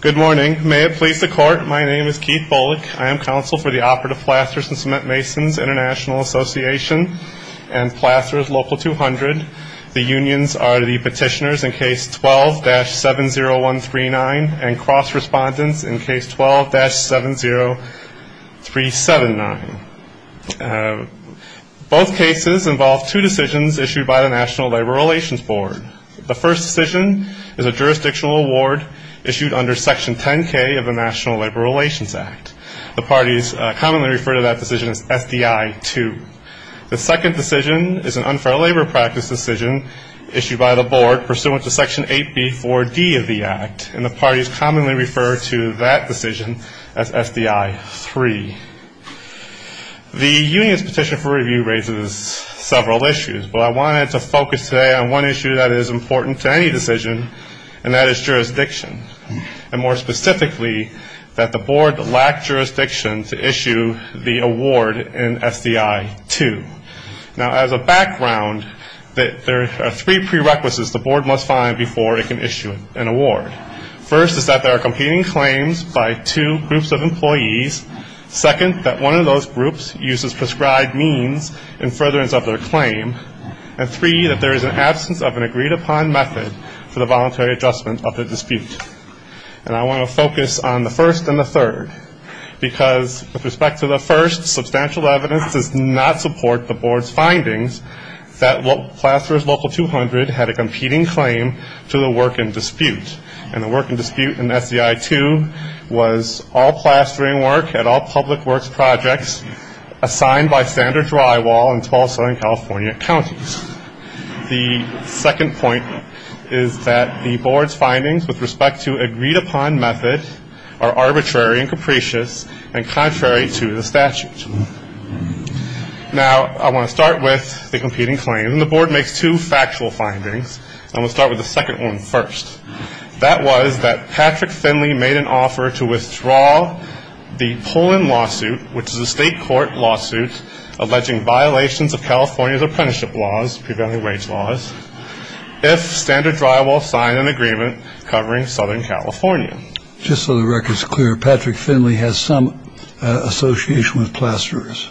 Good morning. May it please the Court, my name is Keith Bullock. I am counsel for the Operative Plasters and Cement Masons International Association and Plasters Local 200. The unions are the petitioners in Case 12-70139 and cross-respondents in Case 12-70379. Both cases involve two decisions issued by the National Labor Relations Board. The first decision is a jurisdictional award issued under Section 10K of the National Labor Relations Act. The parties commonly refer to that decision as SDI 2. The second decision is an unfair labor practice decision issued by the Board pursuant to Section 8B4D of the Act, and the parties commonly refer to that decision as SDI 3. The unions' petition for review raises several issues, but I wanted to focus today on one issue that is important to any decision, and that is jurisdiction, and more specifically, that the Board lacked jurisdiction to issue the award in SDI 2. Now as a background, there are three prerequisites the Board must find before it can issue an award. First is that there are competing claims by two groups of employees. Second, that one of those groups uses prescribed means in furtherance of their claim. And three, that there is an absence of an agreed-upon method for the voluntary adjustment of the dispute. And I want to focus on the first and the third, because with respect to the first, substantial evidence does not support the Board's findings that Plasterers Local 200 had a competing claim to the work in dispute. And the work in dispute in SDI 2 was all plastering work at all public works projects assigned by standard drywall in 12 Southern California counties. The second point is that the Board's findings with respect to agreed-upon method are arbitrary and capricious and contrary to the statute. Now I want to start with the competing claims, and the Board makes two factual findings. I'm going to start with the second one first. That was that Patrick Finley made an offer to withdraw the Pullen lawsuit, which is a state court lawsuit alleging violations of California's apprenticeship laws, prevailing wage laws, if standard drywall signed an agreement covering Southern California. Just so the record's clear, Patrick Finley has some association with Plasterers.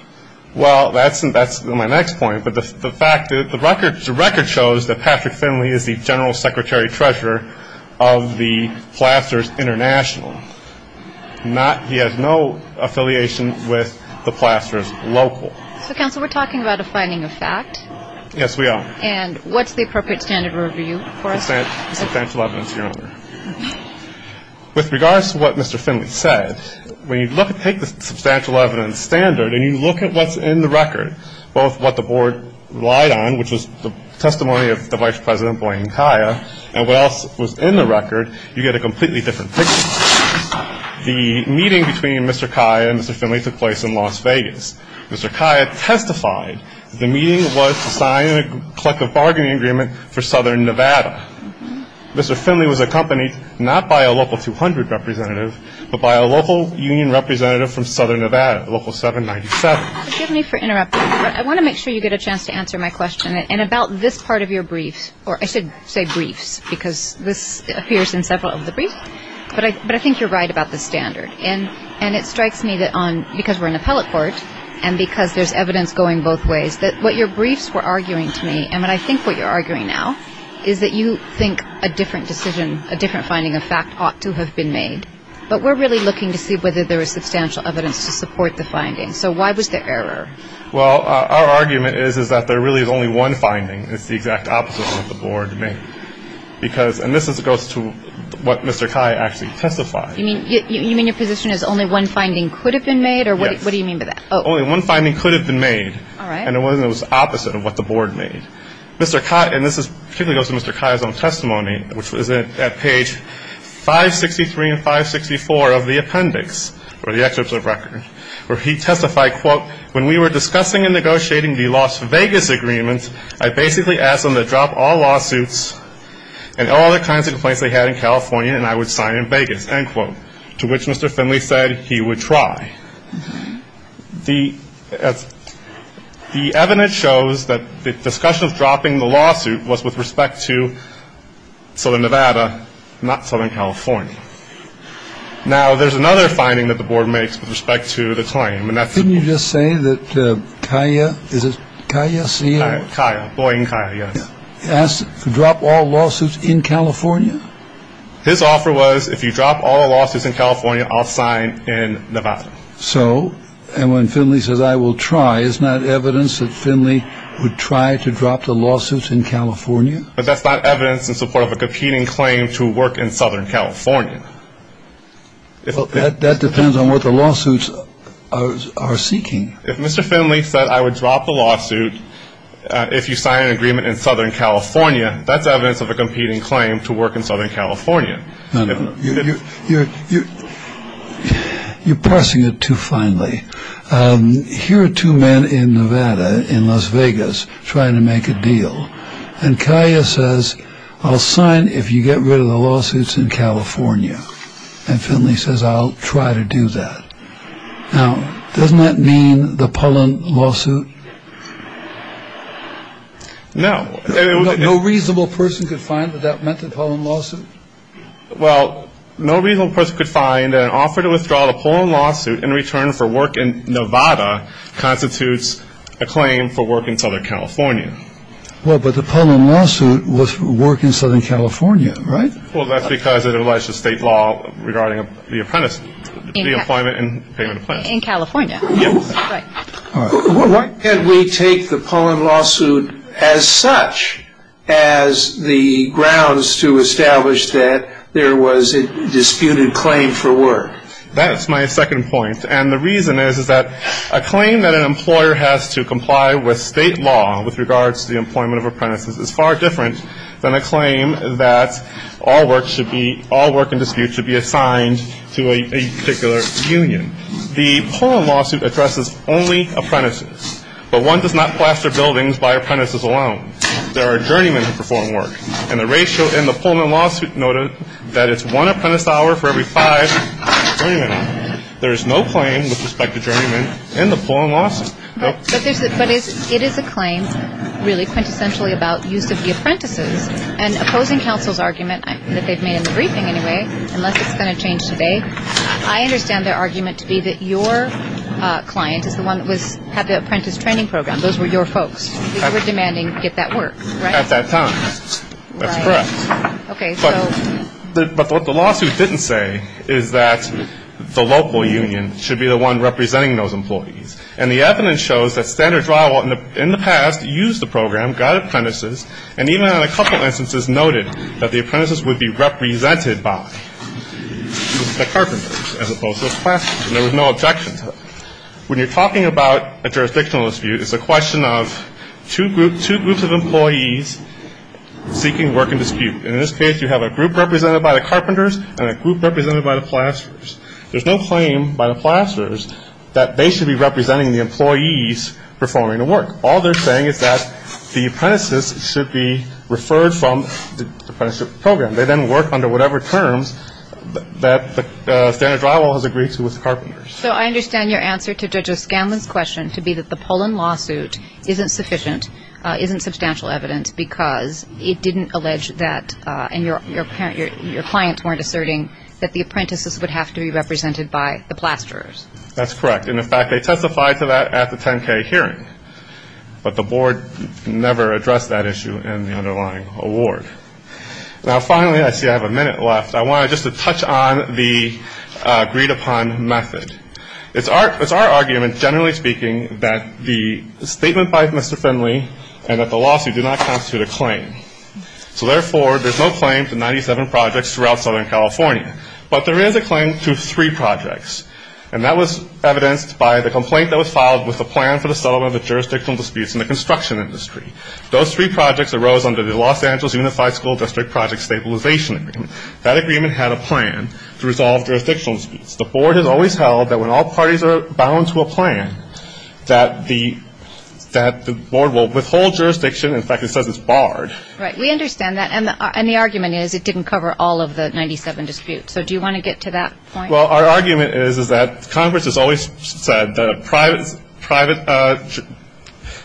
Well, that's my next point. But the fact that the record shows that Patrick Finley is the he has no affiliation with the Plasterers Local. So, counsel, we're talking about a finding of fact. Yes, we are. And what's the appropriate standard of review for us? Substantial evidence, Your Honor. With regards to what Mr. Finley said, when you take the substantial evidence standard and you look at what's in the record, both what the Board relied on, which was the testimony of the Vice President, Blaine Kaya, and what else was in the record, you get a completely different picture. The meeting between Mr. Kaya and Mr. Finley took place in Las Vegas. Mr. Kaya testified that the meeting was to sign a collective bargaining agreement for Southern Nevada. Mr. Finley was accompanied not by a Local 200 representative, but by a local union representative from Southern Nevada, Local 797. Forgive me for interrupting, but I want to make sure you get a chance to answer my question. And about this part of your briefs, or I should say briefs, because this appears in several of the briefs, but I think you're right about the standard. And it strikes me that on, because we're in appellate court, and because there's evidence going both ways, that what your briefs were arguing to me, and what I think what you're arguing now, is that you think a different decision, a different finding of fact ought to have been made. But we're really looking to see whether there is substantial evidence to support the finding. So why was there error? Well, our argument is, is that there really is only one finding. It's the exact opposite of what the Board made. Because, and this goes to what Mr. Kaya actually testified. You mean, you mean your position is only one finding could have been made? Yes. Or what do you mean by that? Only one finding could have been made. All right. And it was the opposite of what the Board made. Mr. Kaya, and this particularly goes to Mr. Kaya's own testimony, which was at page 563 and 564 of the appendix, or the excerpts of record, where he testified, quote, when we were discussing and negotiating the Las Vegas agreement, I basically asked them to drop all lawsuits and all the kinds of complaints they had in California, and I would sign in Vegas, end quote, to which Mr. Finley said he would try. The evidence shows that the discussion of dropping the lawsuit was with respect to Southern Nevada, not Southern California. Now, there's another finding that the Board makes with respect to the claim. Couldn't you just say that Kaya, is it Kaya? Kaya, Boyin Kaya, yes. Asked to drop all lawsuits in California? His offer was, if you drop all the lawsuits in California, I'll sign in Nevada. So, and when Finley says, I will try, is that evidence that Finley would try to drop the lawsuits in California? But that's not evidence in support of a competing claim to work in Southern California. Well, that depends on what the lawsuits are seeking. If Mr. Finley said, I would drop the lawsuit if you sign an agreement in Southern California, that's evidence of a competing claim to work in Southern California. No, no, you're parsing it too finely. Here are two men in Nevada, in Las Vegas, trying to make a deal, and Kaya says, I'll sign if you get rid of the lawsuits in California. And Finley says, I'll try to do that. Now, doesn't that mean the Pullen lawsuit? No. No reasonable person could find that that meant the Pullen lawsuit? Well, no reasonable person could find an offer to withdraw the Pullen lawsuit in return for work in Nevada constitutes a claim for work in Southern California. Well, but the Pullen lawsuit was work in Southern California, right? Well, that's because it alleged to state law regarding the apprentice, the employment and payment of plans. In California. Yes. Right. Why can't we take the Pullen lawsuit as such as the grounds to establish that there was a disputed claim for work? That's my second point. And the reason is, is that a claim that an employer has to comply with state law with regards to the employment of apprentices is far different than a claim that all work should be, all work in dispute should be assigned to a particular union. The Pullen lawsuit addresses only apprentices, but one does not plaster buildings by apprentices alone. There are journeymen who perform work, and the ratio in the Pullen lawsuit noted that it's one apprentice hour for every five journeymen. There is no claim with respect to journeymen in the Pullen lawsuit. But it is a claim really quintessentially about use of the apprentices and opposing counsel's argument that they've made in the briefing anyway, unless it's going to change today. I understand their argument to be that your client is the one that had the apprentice training program. Those were your folks. We're demanding to get that work. At that time. That's correct. Okay, so. But what the lawsuit didn't say is that the local union should be the one representing those employees. And the evidence shows that Standard Drywall in the past used the program, got apprentices, and even in a couple instances noted that the apprentices would be represented by the carpenters as opposed to the plasters. And there was no objection to it. When you're talking about a jurisdictional dispute, it's a question of two groups of employees seeking work in dispute. In this case, you have a group represented by the carpenters and a group represented by the plasters. There's no claim by the plasters that they should be representing the employees performing the work. All they're saying is that the apprentices should be referred from the apprenticeship program. They then work under whatever terms that the Standard Drywall has agreed to with the carpenters. So I understand your answer to Judge O'Scanlan's question to be that the Poland lawsuit isn't sufficient, isn't substantial evidence because it didn't allege that, and your clients weren't asserting, that the apprentices would have to be represented by the plasterers. That's correct. And in fact, they testified to that at the 10K hearing. But the board never addressed that issue in the underlying award. Now, finally, I see I have a minute left. I wanted just to touch on the agreed-upon method. It's our argument, generally speaking, that the statement by Mr. Finley and that the lawsuit do not constitute a claim. So therefore, there's no claim to 97 projects throughout Southern California. But there is a claim to three projects. And that was evidenced by the complaint that was filed with the plan for the settlement of the jurisdictional disputes in the construction industry. Those three projects arose under the Los Angeles Unified School District Project Stabilization Agreement. That agreement had a plan to resolve jurisdictional disputes. The board has always held that when all parties are bound to a plan, that the board will withhold jurisdiction. In fact, it says it's barred. Right. We understand that. And the argument is it didn't cover all of the 97 disputes. So do you want to get to that point? Well, our argument is that Congress has always said that a private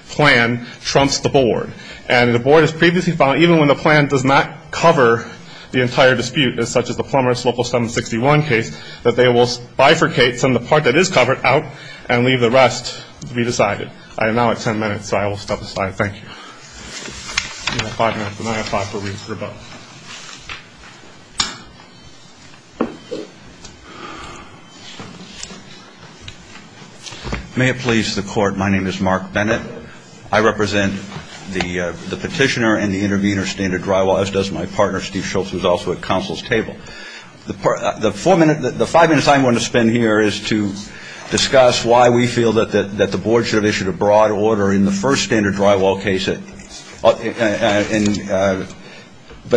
plan trumps the board. And the board has previously found, even when the plan does not cover the entire dispute, as such as the Plummer's Local 761 case, that they will bifurcate some of the part that is covered out and leave the rest to be decided. I am now at ten minutes, so I will stop the slide. Thank you. We have five minutes, and then I have five for rebuttal. May it please the court. My name is Mark Bennett. I represent the petitioner and the intervener, standard drywall, as does my partner, Steve Schultz, who is also at counsel's table. The five minutes I'm going to spend here is to discuss why we feel that the board should have issued a broad order in the first standard drywall case. But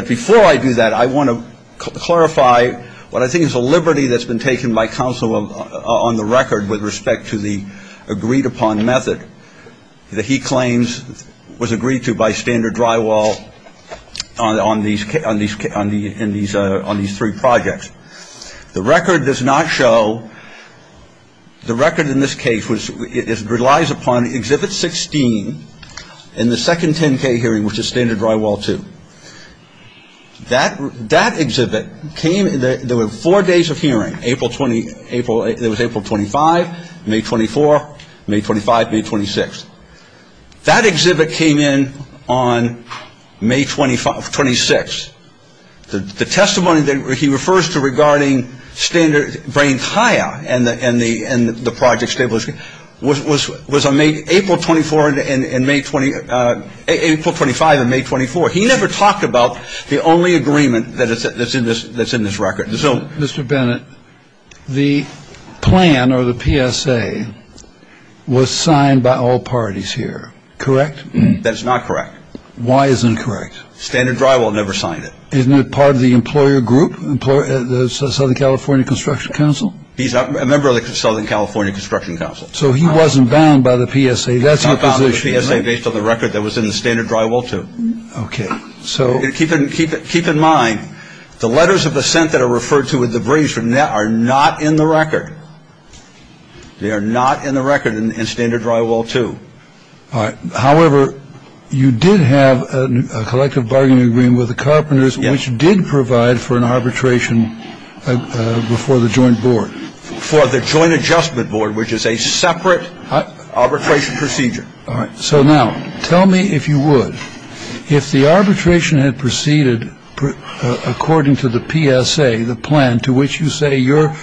before I do that, I want to clarify what I think is a liberty that's been taken by counsel on the record with respect to the agreed-upon method. That he claims was agreed to by standard drywall on these three projects. The record does not show, the record in this case relies upon Exhibit 16 in the second 10-K hearing, which is standard drywall two. That exhibit came, there were four days of hearing, April 20, it was April 25, May 24, May 25, May 26. That exhibit came in on May 25, 26. The testimony that he refers to regarding standard, and the project stablishment was on April 24 and May 20, April 25 and May 24. He never talked about the only agreement that's in this record. Mr. Bennett, the plan or the PSA was signed by all parties here, correct? That's not correct. Why is it incorrect? Standard drywall never signed it. Isn't it part of the employer group, Southern California Construction Council? He's a member of the Southern California Construction Council. So he wasn't bound by the PSA, that's your position. He's not bound by the PSA based on the record that was in the standard drywall two. Okay, so. Keep in mind, the letters of assent that are referred to with the briefs from that are not in the record. They are not in the record in standard drywall two. All right, however, you did have a collective bargaining agreement with the carpenters, which did provide for an arbitration before the joint board. For the joint adjustment board, which is a separate arbitration procedure. All right, so now, tell me if you would. If the arbitration had proceeded according to the PSA, the plan to which you say your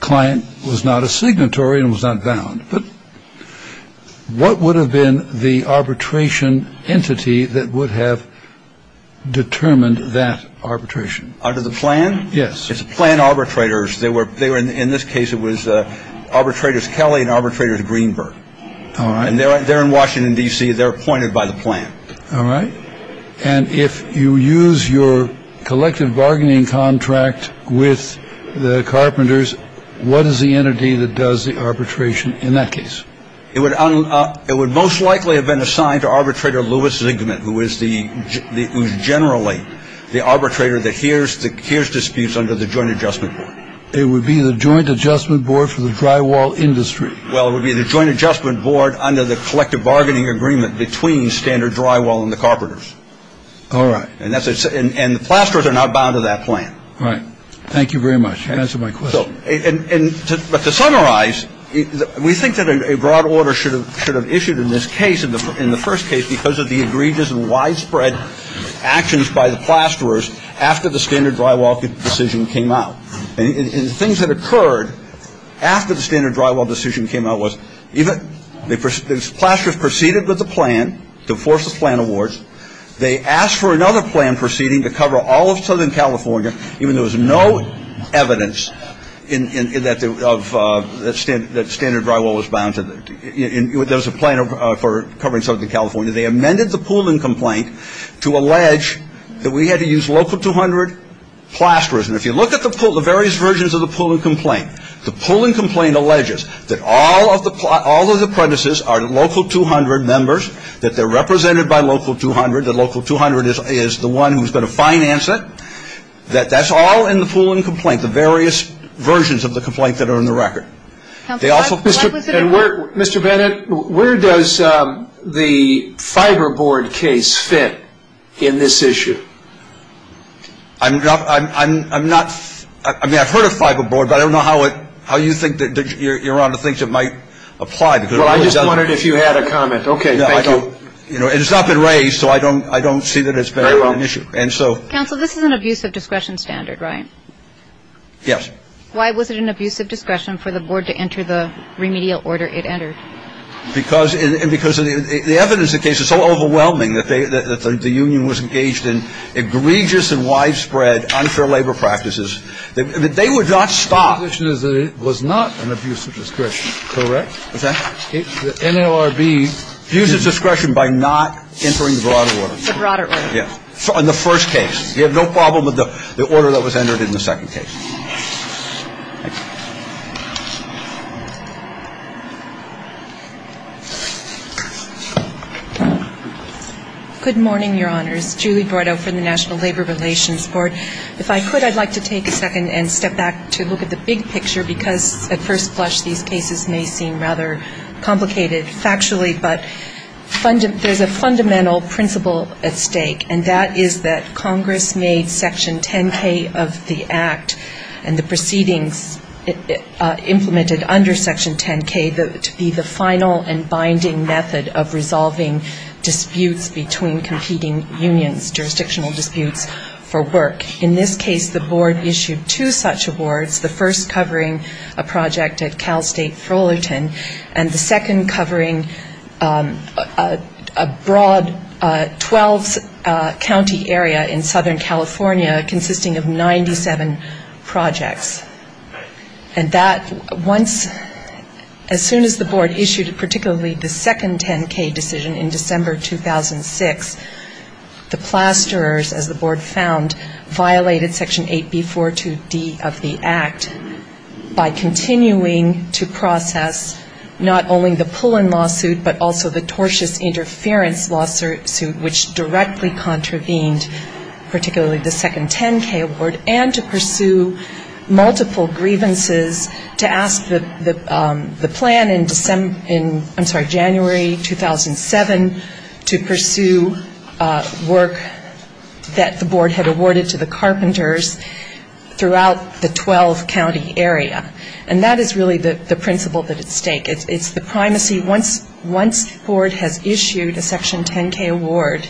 client was not a signatory and was not bound, but what would have been the arbitration entity that would have determined that arbitration under the plan? Yes, it's a plan arbitrators. They were there in this case. It was arbitrators. Kelly and arbitrators. The Greenberg. And they're there in Washington, D.C. They're appointed by the plan. All right. And if you use your collective bargaining contract with the carpenters, what is the entity that does the arbitration in that case? It would it would most likely have been assigned to arbitrator Lewis Zinkman, who is the who's generally the arbitrator that hears the cares disputes under the joint adjustment. It would be the joint adjustment board for the drywall industry. Well, it would be the joint adjustment board under the collective bargaining agreement between standard drywall and the carpenters. All right. And that's it. And the plasterers are not bound to that plan. All right. Thank you very much. That's my question. And to summarize, we think that a broad order should have should have issued in this case in the in the first case, because of the egregious and widespread actions by the plasterers after the standard drywall decision came out. And things that occurred after the standard drywall decision came out was even the plasterers proceeded with the plan to force the plan awards. They asked for another plan proceeding to cover all of Southern California, even though there was no evidence in that of the standard that standard drywall was bound to it. There's a plan for covering some of the California. They amended the pooling complaint to allege that we had to use local 200 plasters. And if you look at the pool, the various versions of the pooling complaint, the pooling complaint alleges that all of the plot, all of the premises are local 200 members, that they're represented by local 200, the local 200 is the one who's going to finance it. That that's all in the pooling complaint, the various versions of the complaint that are in the record. They also Mr. Mr. Bennett, where does the fiber board case fit in this issue? I'm not I'm I'm not I mean, I've heard of fiber board, but I don't know how it how you think that you're on the things that might apply. Well, I just wondered if you had a comment. OK, I don't you know, it's not been raised, so I don't I don't see that it's been an issue. And so, counsel, this is an abuse of discretion standard, right? Yes. Why was it an abuse of discretion for the board to enter the remedial order it entered? Because and because of the evidence, the case is so overwhelming that the union was engaged in egregious and widespread unfair labor practices that they would not stop. The issue is that it was not an abuse of discretion. Correct. The NLRB use of discretion by not entering the broader order on the first case. You have no problem with the order that was entered in the second case. Good morning, Your Honors. Julie Bordeaux from the National Labor Relations Board. If I could, I'd like to take a second and step back to look at the big picture, because at first blush, these cases may seem rather complicated factually. But there's a fundamental principle at stake, and that is that Congress made Section 10K of the act and the proceedings implemented under Section 10K to be the final and binding method of resolving disputes between competing unions, jurisdictional disputes for work. In this case, the board issued two such awards, the first covering a project at Cal State Fullerton, and the second covering a broad 12-county area in Southern California consisting of 97 projects. And that once, as soon as the board issued particularly the second 10K decision in December 2006, the plasterers, as the board found, violated Section 8B42D of the act by continuing to process not only the Pullen lawsuit, but also the tortious interference lawsuit, which directly contravened particularly the second 10K award, and to pursue multiple grievances to ask the plan in December, I'm sorry, January 2007 to pursue work that the board had awarded to the carpenters throughout the 12-county area. And that is really the principle at stake. It's the primacy. Once the board has issued a Section 10K award,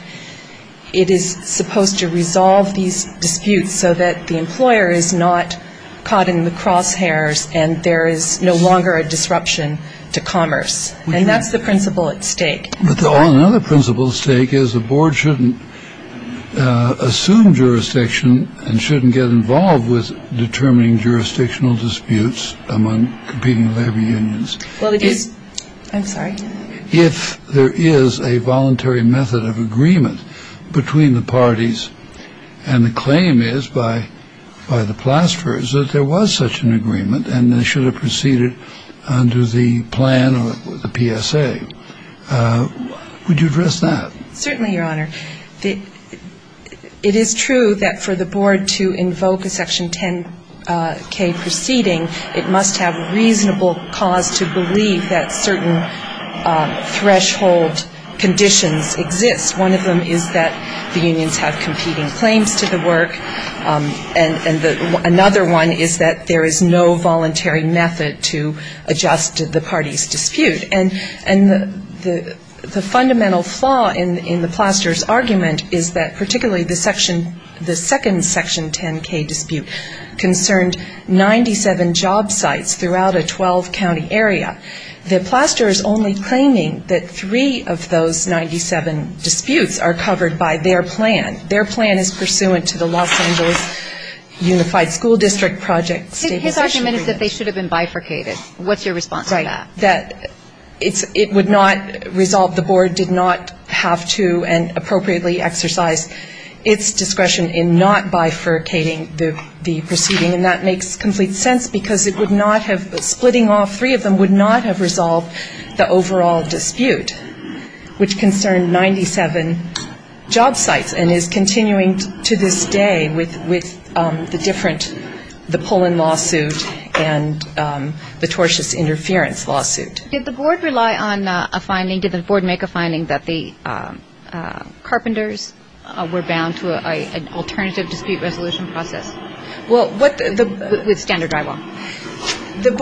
it is supposed to resolve these disputes so that the employer is not caught in the crosshairs and there is no longer a disruption to commerce. And that's the principle at stake. Another principle at stake is the board shouldn't assume jurisdiction and shouldn't get involved with determining jurisdictional disputes among competing labor unions. Well, it is. I'm sorry. If there is a voluntary method of agreement between the parties and the claim is by the plasterers that there was such an agreement and they should have proceeded under the plan or the PSA, would you address that? Certainly, Your Honor. It is true that for the board to invoke a Section 10K proceeding, it must have reasonable cause to believe that certain threshold conditions exist. One of them is that the unions have competing claims to the work, and another one is that there is no voluntary method to adjust the party's dispute. And the fundamental flaw in the plasterer's argument is that particularly the Section, the second Section 10K dispute concerned 97 job sites throughout a 12-county area. The plasterer is only claiming that three of those 97 disputes are covered by their plan. Their plan is pursuant to the Los Angeles Unified School District Project Stabilization Agreement. His argument is that they should have been bifurcated. What's your response to that? That it would not resolve, the board did not have to and appropriately exercise its discretion in not bifurcating the proceeding. And that makes complete sense because it would not have, splitting off three of them would not have resolved the overall dispute, which concerned 97 job sites and is continuing to this day with the different, the pull-in lawsuit and the tortious interference lawsuit. Did the board rely on a finding, did the board make a finding that the carpenters were bound to an alternative dispute resolution process with standard drywall? The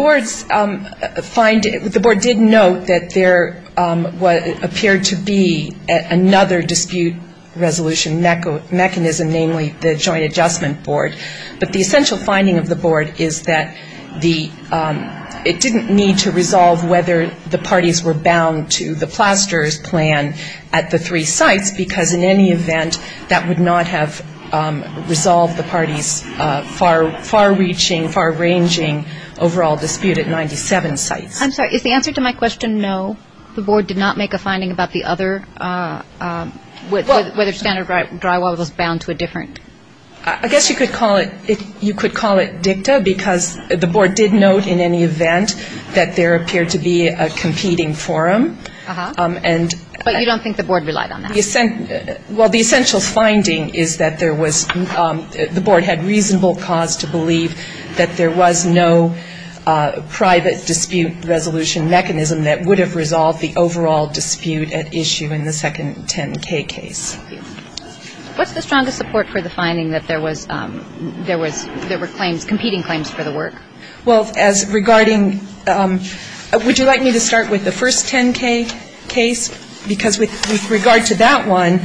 board did note that there appeared to be another dispute resolution mechanism, namely the joint adjustment board. But the essential finding of the board is that the, it didn't need to resolve whether the parties were bound to the plasterer's plan at the three sites because in any event that would not have resolved the party's far-reaching, far-ranging overall dispute at 97 sites. I'm sorry, is the answer to my question no? The board did not make a finding about the other, whether standard drywall was bound to a different? I guess you could call it, you could call it dicta because the board did note in any event that there appeared to be a competing forum. Uh-huh. And. But you don't think the board relied on that? Well, the essential finding is that there was, the board had reasonable cause to believe that there was no private dispute resolution mechanism that would have resolved the overall dispute at issue in the second 10K case. Thank you. What's the strongest support for the finding that there was, there was, there were claims, competing claims for the work? Well, as regarding, would you like me to start with the first 10K case? Because with, with regard to that one,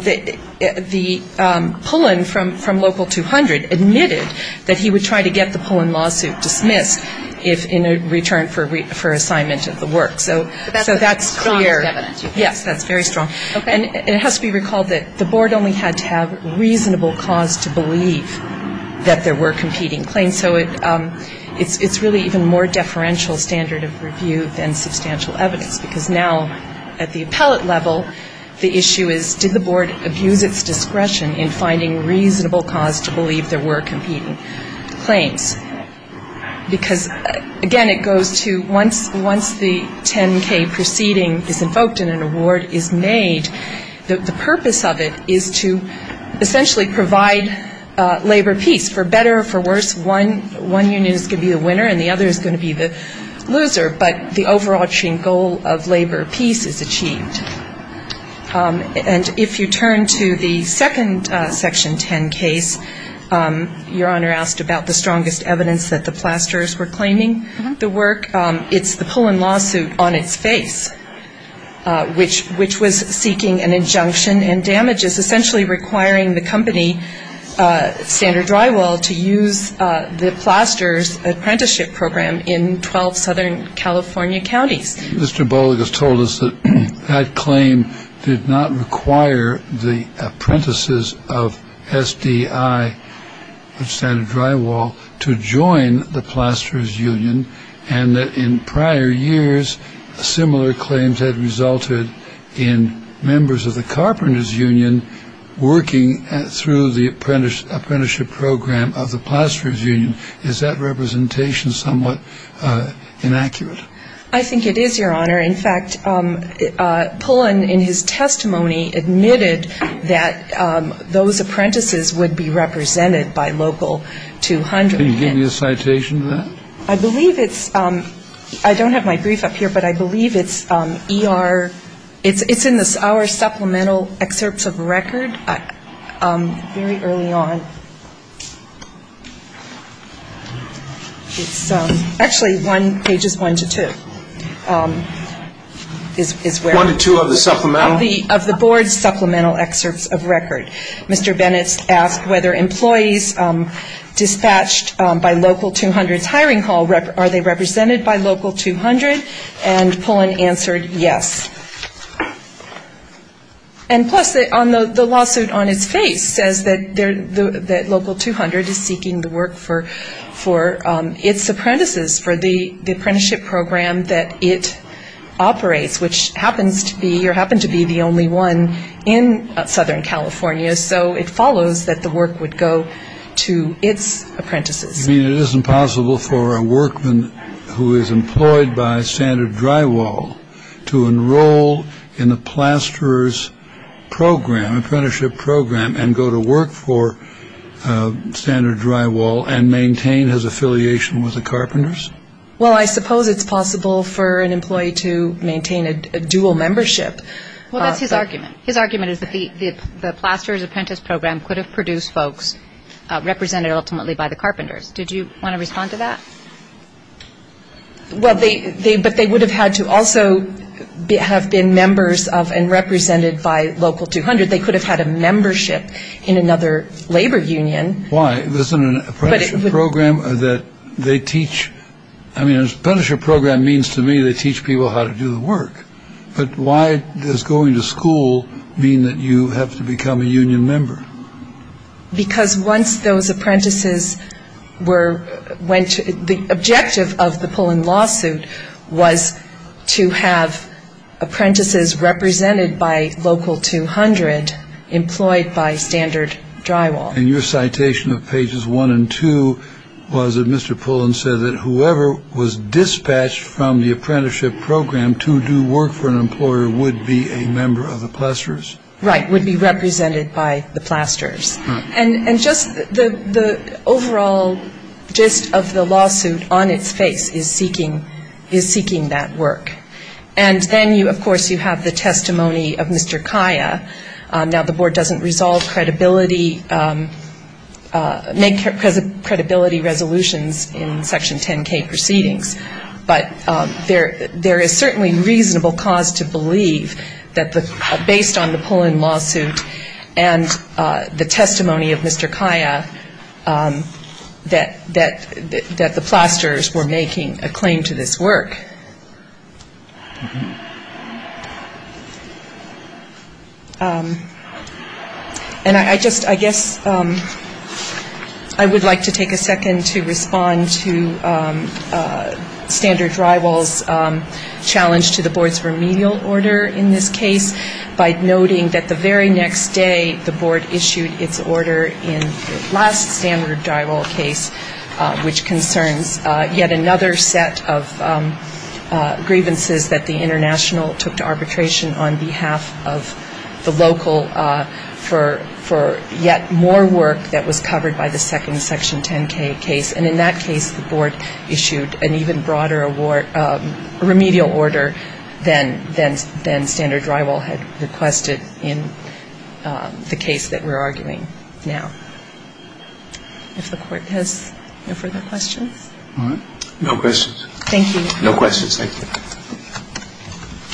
the, the Pullen from, from local 200 admitted that he would try to get the Pullen lawsuit dismissed if in a return for, for assignment of the work. So, so that's clear. That's strong evidence. Yes, that's very strong. Okay. And it has to be recalled that the board only had to have reasonable cause to believe that there were competing claims. So it, it's, it's really even more deferential standard of review than substantial evidence because now at the appellate level, the issue is did the board abuse its discretion in finding reasonable cause to believe there were competing claims? Because, again, it goes to once, once the 10K proceeding is invoked and an award is made, the, the purpose of it is to essentially provide labor peace. For better or for worse, one, one union is going to be the winner and the other is going to be the loser. But the overarching goal of labor peace is achieved. And if you turn to the second Section 10 case, Your Honor asked about the strongest evidence that the Plasters were claiming the work. It's the Pullen lawsuit on its face, which, which was seeking an injunction and damages essentially requiring the company Standard Drywall to use the Plaster's apprenticeship program in 12 Southern California counties. Mr. Boling has told us that that claim did not require the apprentices of SDI Standard Drywall to join the Plaster's union and that in prior years, similar claims had resulted in members of the Carpenter's union working through the apprenticeship program of the Plaster's union. Is that representation somewhat inaccurate? I think it is, Your Honor. In fact, Pullen in his testimony admitted that those apprentices would be represented by local 200. Can you give me a citation to that? I believe it's, I don't have my brief up here, but I believe it's ER, it's in our supplemental excerpts of record very early on. It's actually pages one to two. One to two of the supplemental? Of the Board's supplemental excerpts of record. Mr. Bennett asked whether employees dispatched by local 200's hiring hall, are they represented by local 200? And Pullen answered yes. And plus, the lawsuit on its face says that local 200 is seeking the work for its apprentices, for the apprenticeship program that it operates, which happens to be, or happened to be the only one in Southern California. So it follows that the work would go to its apprentices. You mean it isn't possible for a workman who is employed by Standard Drywall to enroll in the Plaster's program, apprenticeship program, and go to work for Standard Drywall and maintain his affiliation with the Carpenters? Well, I suppose it's possible for an employee to maintain a dual membership. Well, that's his argument. His argument is that the Plaster's apprentice program could have produced folks represented ultimately by the Carpenters. Did you want to respond to that? Well, but they would have had to also have been members of and represented by local 200. They could have had a membership in another labor union. Why? Isn't an apprenticeship program that they teach? I mean, an apprenticeship program means to me they teach people how to do the work. But why does going to school mean that you have to become a union member? Because once those apprentices were, went to, the objective of the Pullen lawsuit was to have apprentices represented by local 200 employed by Standard Drywall. And your citation of pages one and two was that Mr. Pullen said that whoever was dispatched from the apprenticeship program to do work for an employer would be a member of the Plaster's? Right. Would be represented by the Plaster's. And just the overall gist of the lawsuit on its face is seeking, is seeking that work. of course, you have the testimony of Mr. Kaya. Now, the board doesn't resolve credibility, make credibility resolutions in Section 10K proceedings. But there is certainly reasonable cause to believe that based on the Pullen lawsuit and the testimony of Mr. Kaya that the Plaster's were making a claim to this work. And I just, I guess I would like to take a second to respond to Standard Drywall's challenge to the board's remedial order in this case by noting that the very next day the board issued its order in the last Standard Drywall case, which concerns yet another set of grievances that the international took to arbitration on behalf of the local for, for yet more work that was covered by the second Section 10K case. And in that case, the board issued an even broader award, remedial order than, than, than Standard Drywall had requested in the case that we're arguing now. If the court has no further questions. All right. No questions. Thank you. No questions. Thank you.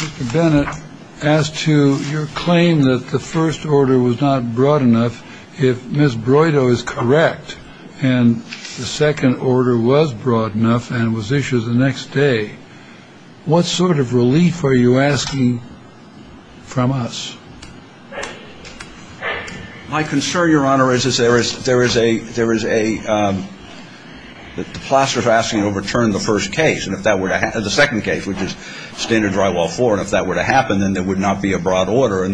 Mr. Bennett, as to your claim that the first order was not broad enough, if Ms. Broydo is correct and the second order was broad enough and was issued the next day, what sort of relief are you asking from us? My concern, Your Honor, is, is there is, there is a, there is a, um, the Plaster's asking to overturn the first case. And if that were to happen, the second case, which is Standard Drywall 4, and if that were to happen, then there would not be a broad order.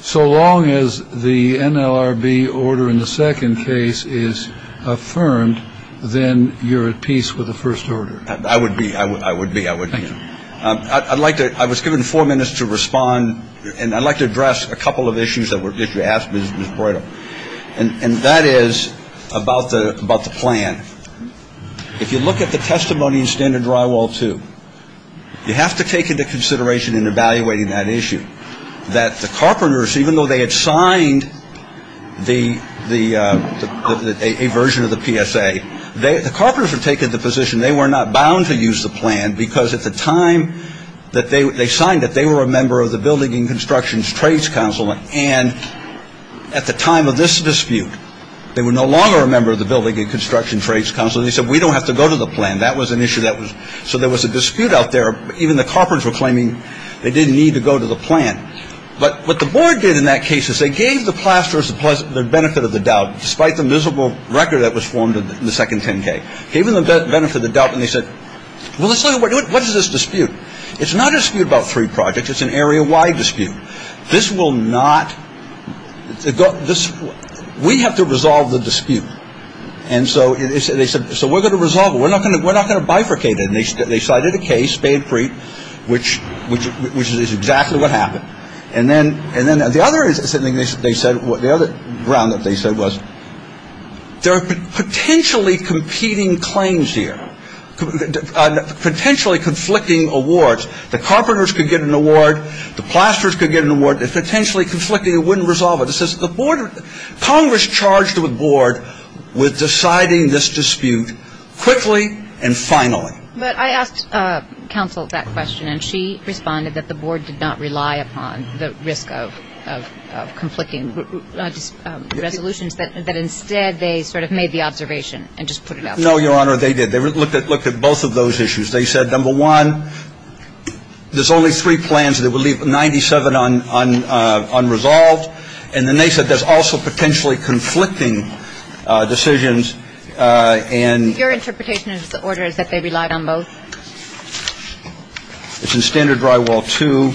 So long as the NLRB order in the second case is affirmed, then you're at peace with the first order. I would be. I would be. I would be. I'd like to, I was given four minutes to respond, and I'd like to address a couple of issues that were, that you asked Ms. Broydo. And that is about the, about the plan. If you look at the testimony in Standard Drywall 2, you have to take into consideration in evaluating that issue, that the Carpenters, even though they had signed the, the, a version of the PSA, they, the Carpenters had taken the position they were not bound to use the plan, because at the time that they, they signed it, they were a member of the Building and Construction Trades Council, and at the time of this dispute, they were no longer a member of the Building and Construction Trades Council, and they said, we don't have to go to the plan. That was an issue that was, so there was a dispute out there. Even the Carpenters were claiming they didn't need to go to the plan. But what the board did in that case is they gave the plasterers the benefit of the doubt, despite the miserable record that was formed in the second 10K. Gave them the benefit of the doubt, and they said, well, let's look at what, what is this dispute? It's not a dispute about three projects. It's an area-wide dispute. This will not, this, we have to resolve the dispute. And so, they said, so we're going to resolve it. We're not going to, we're not going to bifurcate it. And they, they cited a case, Spade-Preet, which, which, which is exactly what happened. And then, and then the other thing they said, the other ground that they said was, there are potentially competing claims here. Potentially conflicting awards. The Carpenters could get an award. The plasterers could get an award. It's potentially conflicting. It wouldn't resolve it. It says the board, Congress charged the board with deciding this dispute quickly and finally. But I asked counsel that question, and she responded that the board did not rely upon the risk of, of conflicting resolutions, that, that instead they sort of made the observation and just put it out there. No, Your Honor, they did. They looked at, looked at both of those issues. They said, number one, there's only three plans. They would leave 97 un, un, unresolved. And then they said, there's also potentially conflicting decisions. And your interpretation of the order is that they relied on both. It's in standard drywall to.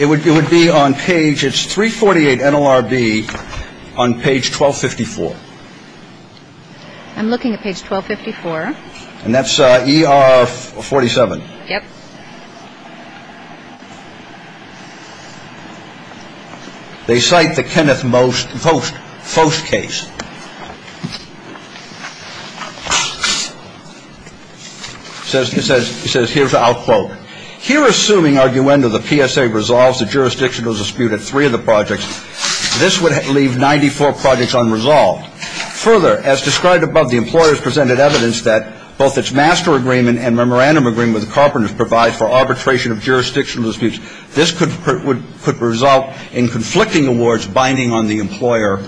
It would, it would be on page it's 348 NLRB on page 1254. I'm looking at page 1254. And that's ER 47. Yep. They cite the Kenneth most post post case. Says, he says, he says, here's the output here, assuming arguendo, the PSA resolves the jurisdictional dispute at three of the projects. This would leave 94 projects unresolved. Further, as described above, the employers presented evidence that both its master agreement and memorandum agreement with the carpenter's provides for arbitration of jurisdictional disputes. This could, could result in conflicting awards binding on the employer.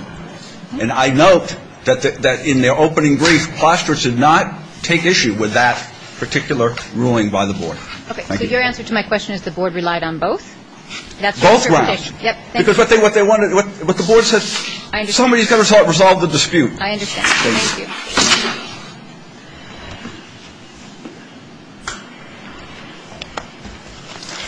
And I note that, that in their opening brief, Plaster did not take issue with that particular ruling by the board. Okay. So your answer to my question is the board relied on both. That's both. Yep. Because what they, what they wanted, what the board said, somebody is going to resolve the dispute. I understand. Thank you.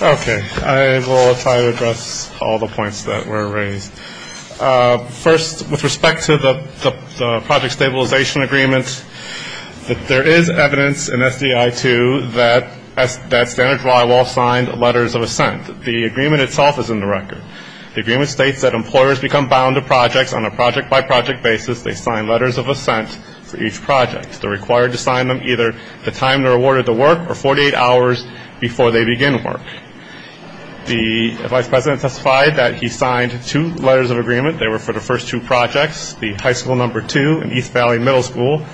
Okay. I will try to address all the points that were raised. First, with respect to the, the, the project stabilization agreement, that there is evidence in SDI to that, that standard drywall signed letters of assent. The agreement itself is in the record. The agreement states that employers become bound to projects on a project-by-project basis. They sign letters of assent for each project. They're required to sign them either the time they're awarded the work or 48 hours before they begin work. The vice president testified that he signed two letters of agreement. They were for the first two projects, the high school number two and East Valley Middle School.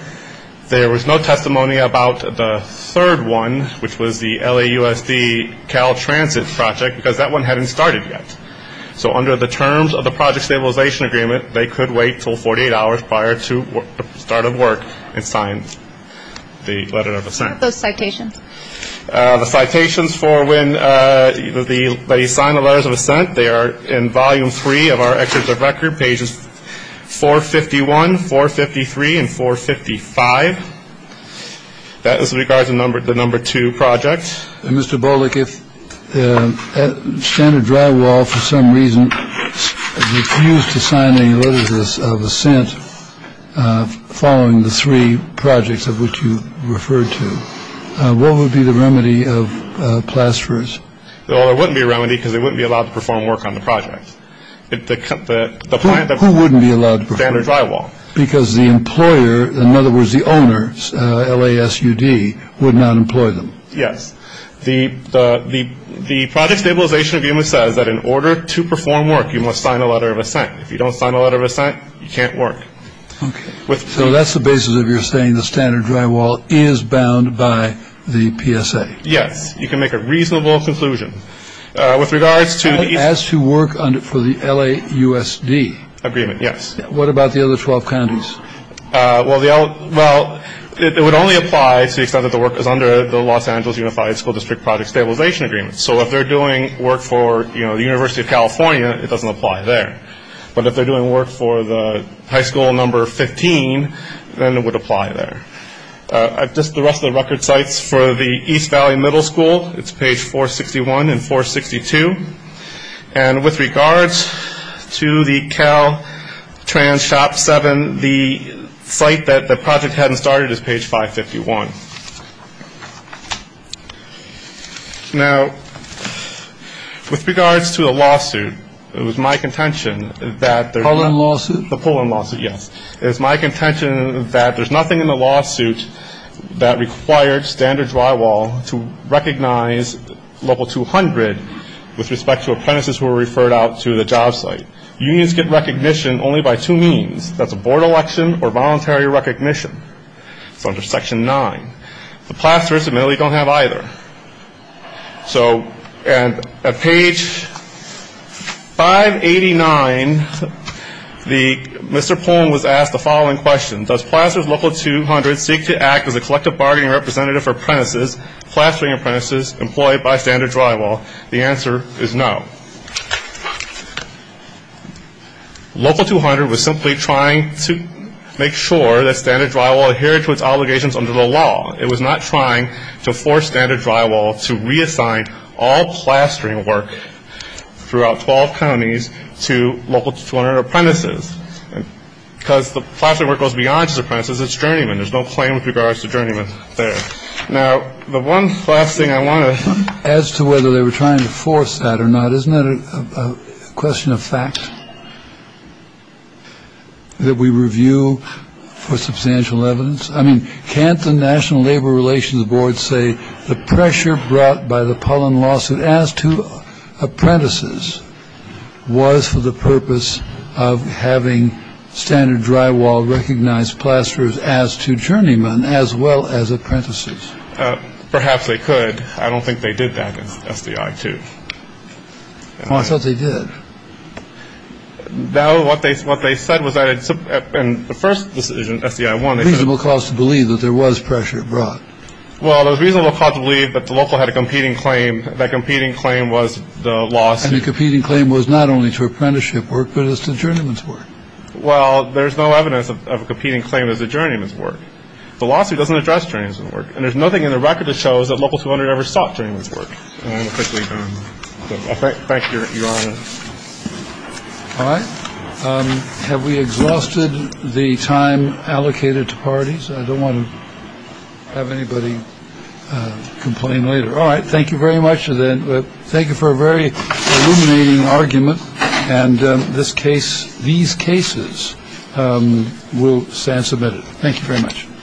There was no testimony about the third one, which was the LAUSD Cal Transit project, because that one hadn't started yet. So under the terms of the project stabilization agreement, they could wait until 48 hours prior to the start of work and sign the letter of assent. What about those citations? The citations for when the, they sign the letters of assent, they are in volume three of our records of record, pages 451, 453, and 455. That is in regards to the number two project. Mr. Bullock, if Standard Drywall, for some reason, refused to sign any letters of assent following the three projects of which you referred to, what would be the remedy of plasters? Well, there wouldn't be a remedy because they wouldn't be allowed to perform work on the project. Who wouldn't be allowed to perform work? Standard Drywall. Because the employer, in other words, the owners, LASUD, would not employ them. Yes. The project stabilization agreement says that in order to perform work, you must sign a letter of assent. If you don't sign a letter of assent, you can't work. Okay. So that's the basis of your saying the Standard Drywall is bound by the PSA. Yes. You can make a reasonable conclusion. As to work for the LAUSD. Agreement, yes. What about the other 12 counties? Well, it would only apply to the extent that the work is under the Los Angeles Unified School District Project Stabilization Agreement. So if they're doing work for the University of California, it doesn't apply there. But if they're doing work for the high school number 15, then it would apply there. Just the rest of the record sites for the East Valley Middle School, it's page 461 and 462. And with regards to the Caltrans Shop 7, the site that the project hadn't started is page 551. Now, with regards to the lawsuit, it was my contention that there. The Pullen lawsuit? The Pullen lawsuit, yes. It was my contention that there's nothing in the lawsuit that required Standard Drywall to recognize Local 200 with respect to apprentices who were referred out to the job site. Unions get recognition only by two means. That's a board election or voluntary recognition. It's under Section 9. The Plasters admittedly don't have either. So at page 589, Mr. Pullen was asked the following question. Does Plasters Local 200 seek to act as a collective bargaining representative for apprentices, plastering apprentices employed by Standard Drywall? The answer is no. Local 200 was simply trying to make sure that Standard Drywall adhered to its obligations under the law. It was not trying to force Standard Drywall to reassign all plastering work throughout 12 counties to Local 200 apprentices. Because the plastering work goes beyond just apprentices. It's journeymen. There's no claim with regards to journeymen there. Now, the one last thing I want to ask, as to whether they were trying to force that or not, isn't that a question of fact that we review for substantial evidence? I mean, can't the National Labor Relations Board say the pressure brought by the Pullen lawsuit as to apprentices was for the purpose of having Standard Drywall recognize plasters as to journeymen as well as apprentices? Perhaps they could. I don't think they did that in SDI 2. I thought they did. No, what they said was that in the first decision, SDI 1, they said— Reasonable cause to believe that there was pressure brought. Well, there was reasonable cause to believe that the local had a competing claim. That competing claim was the lawsuit. And the competing claim was not only to apprenticeship work, but as to journeyman's work. Well, there's no evidence of a competing claim as to journeyman's work. The lawsuit doesn't address journeyman's work. And there's nothing in the record that shows that Local 200 ever sought journeyman's work. I want to quickly thank Your Honor. All right. Have we exhausted the time allocated to parties? I don't want to have anybody complain later. All right. Thank you very much. Thank you for a very illuminating argument. And this case, these cases will stand submitted. Thank you very much.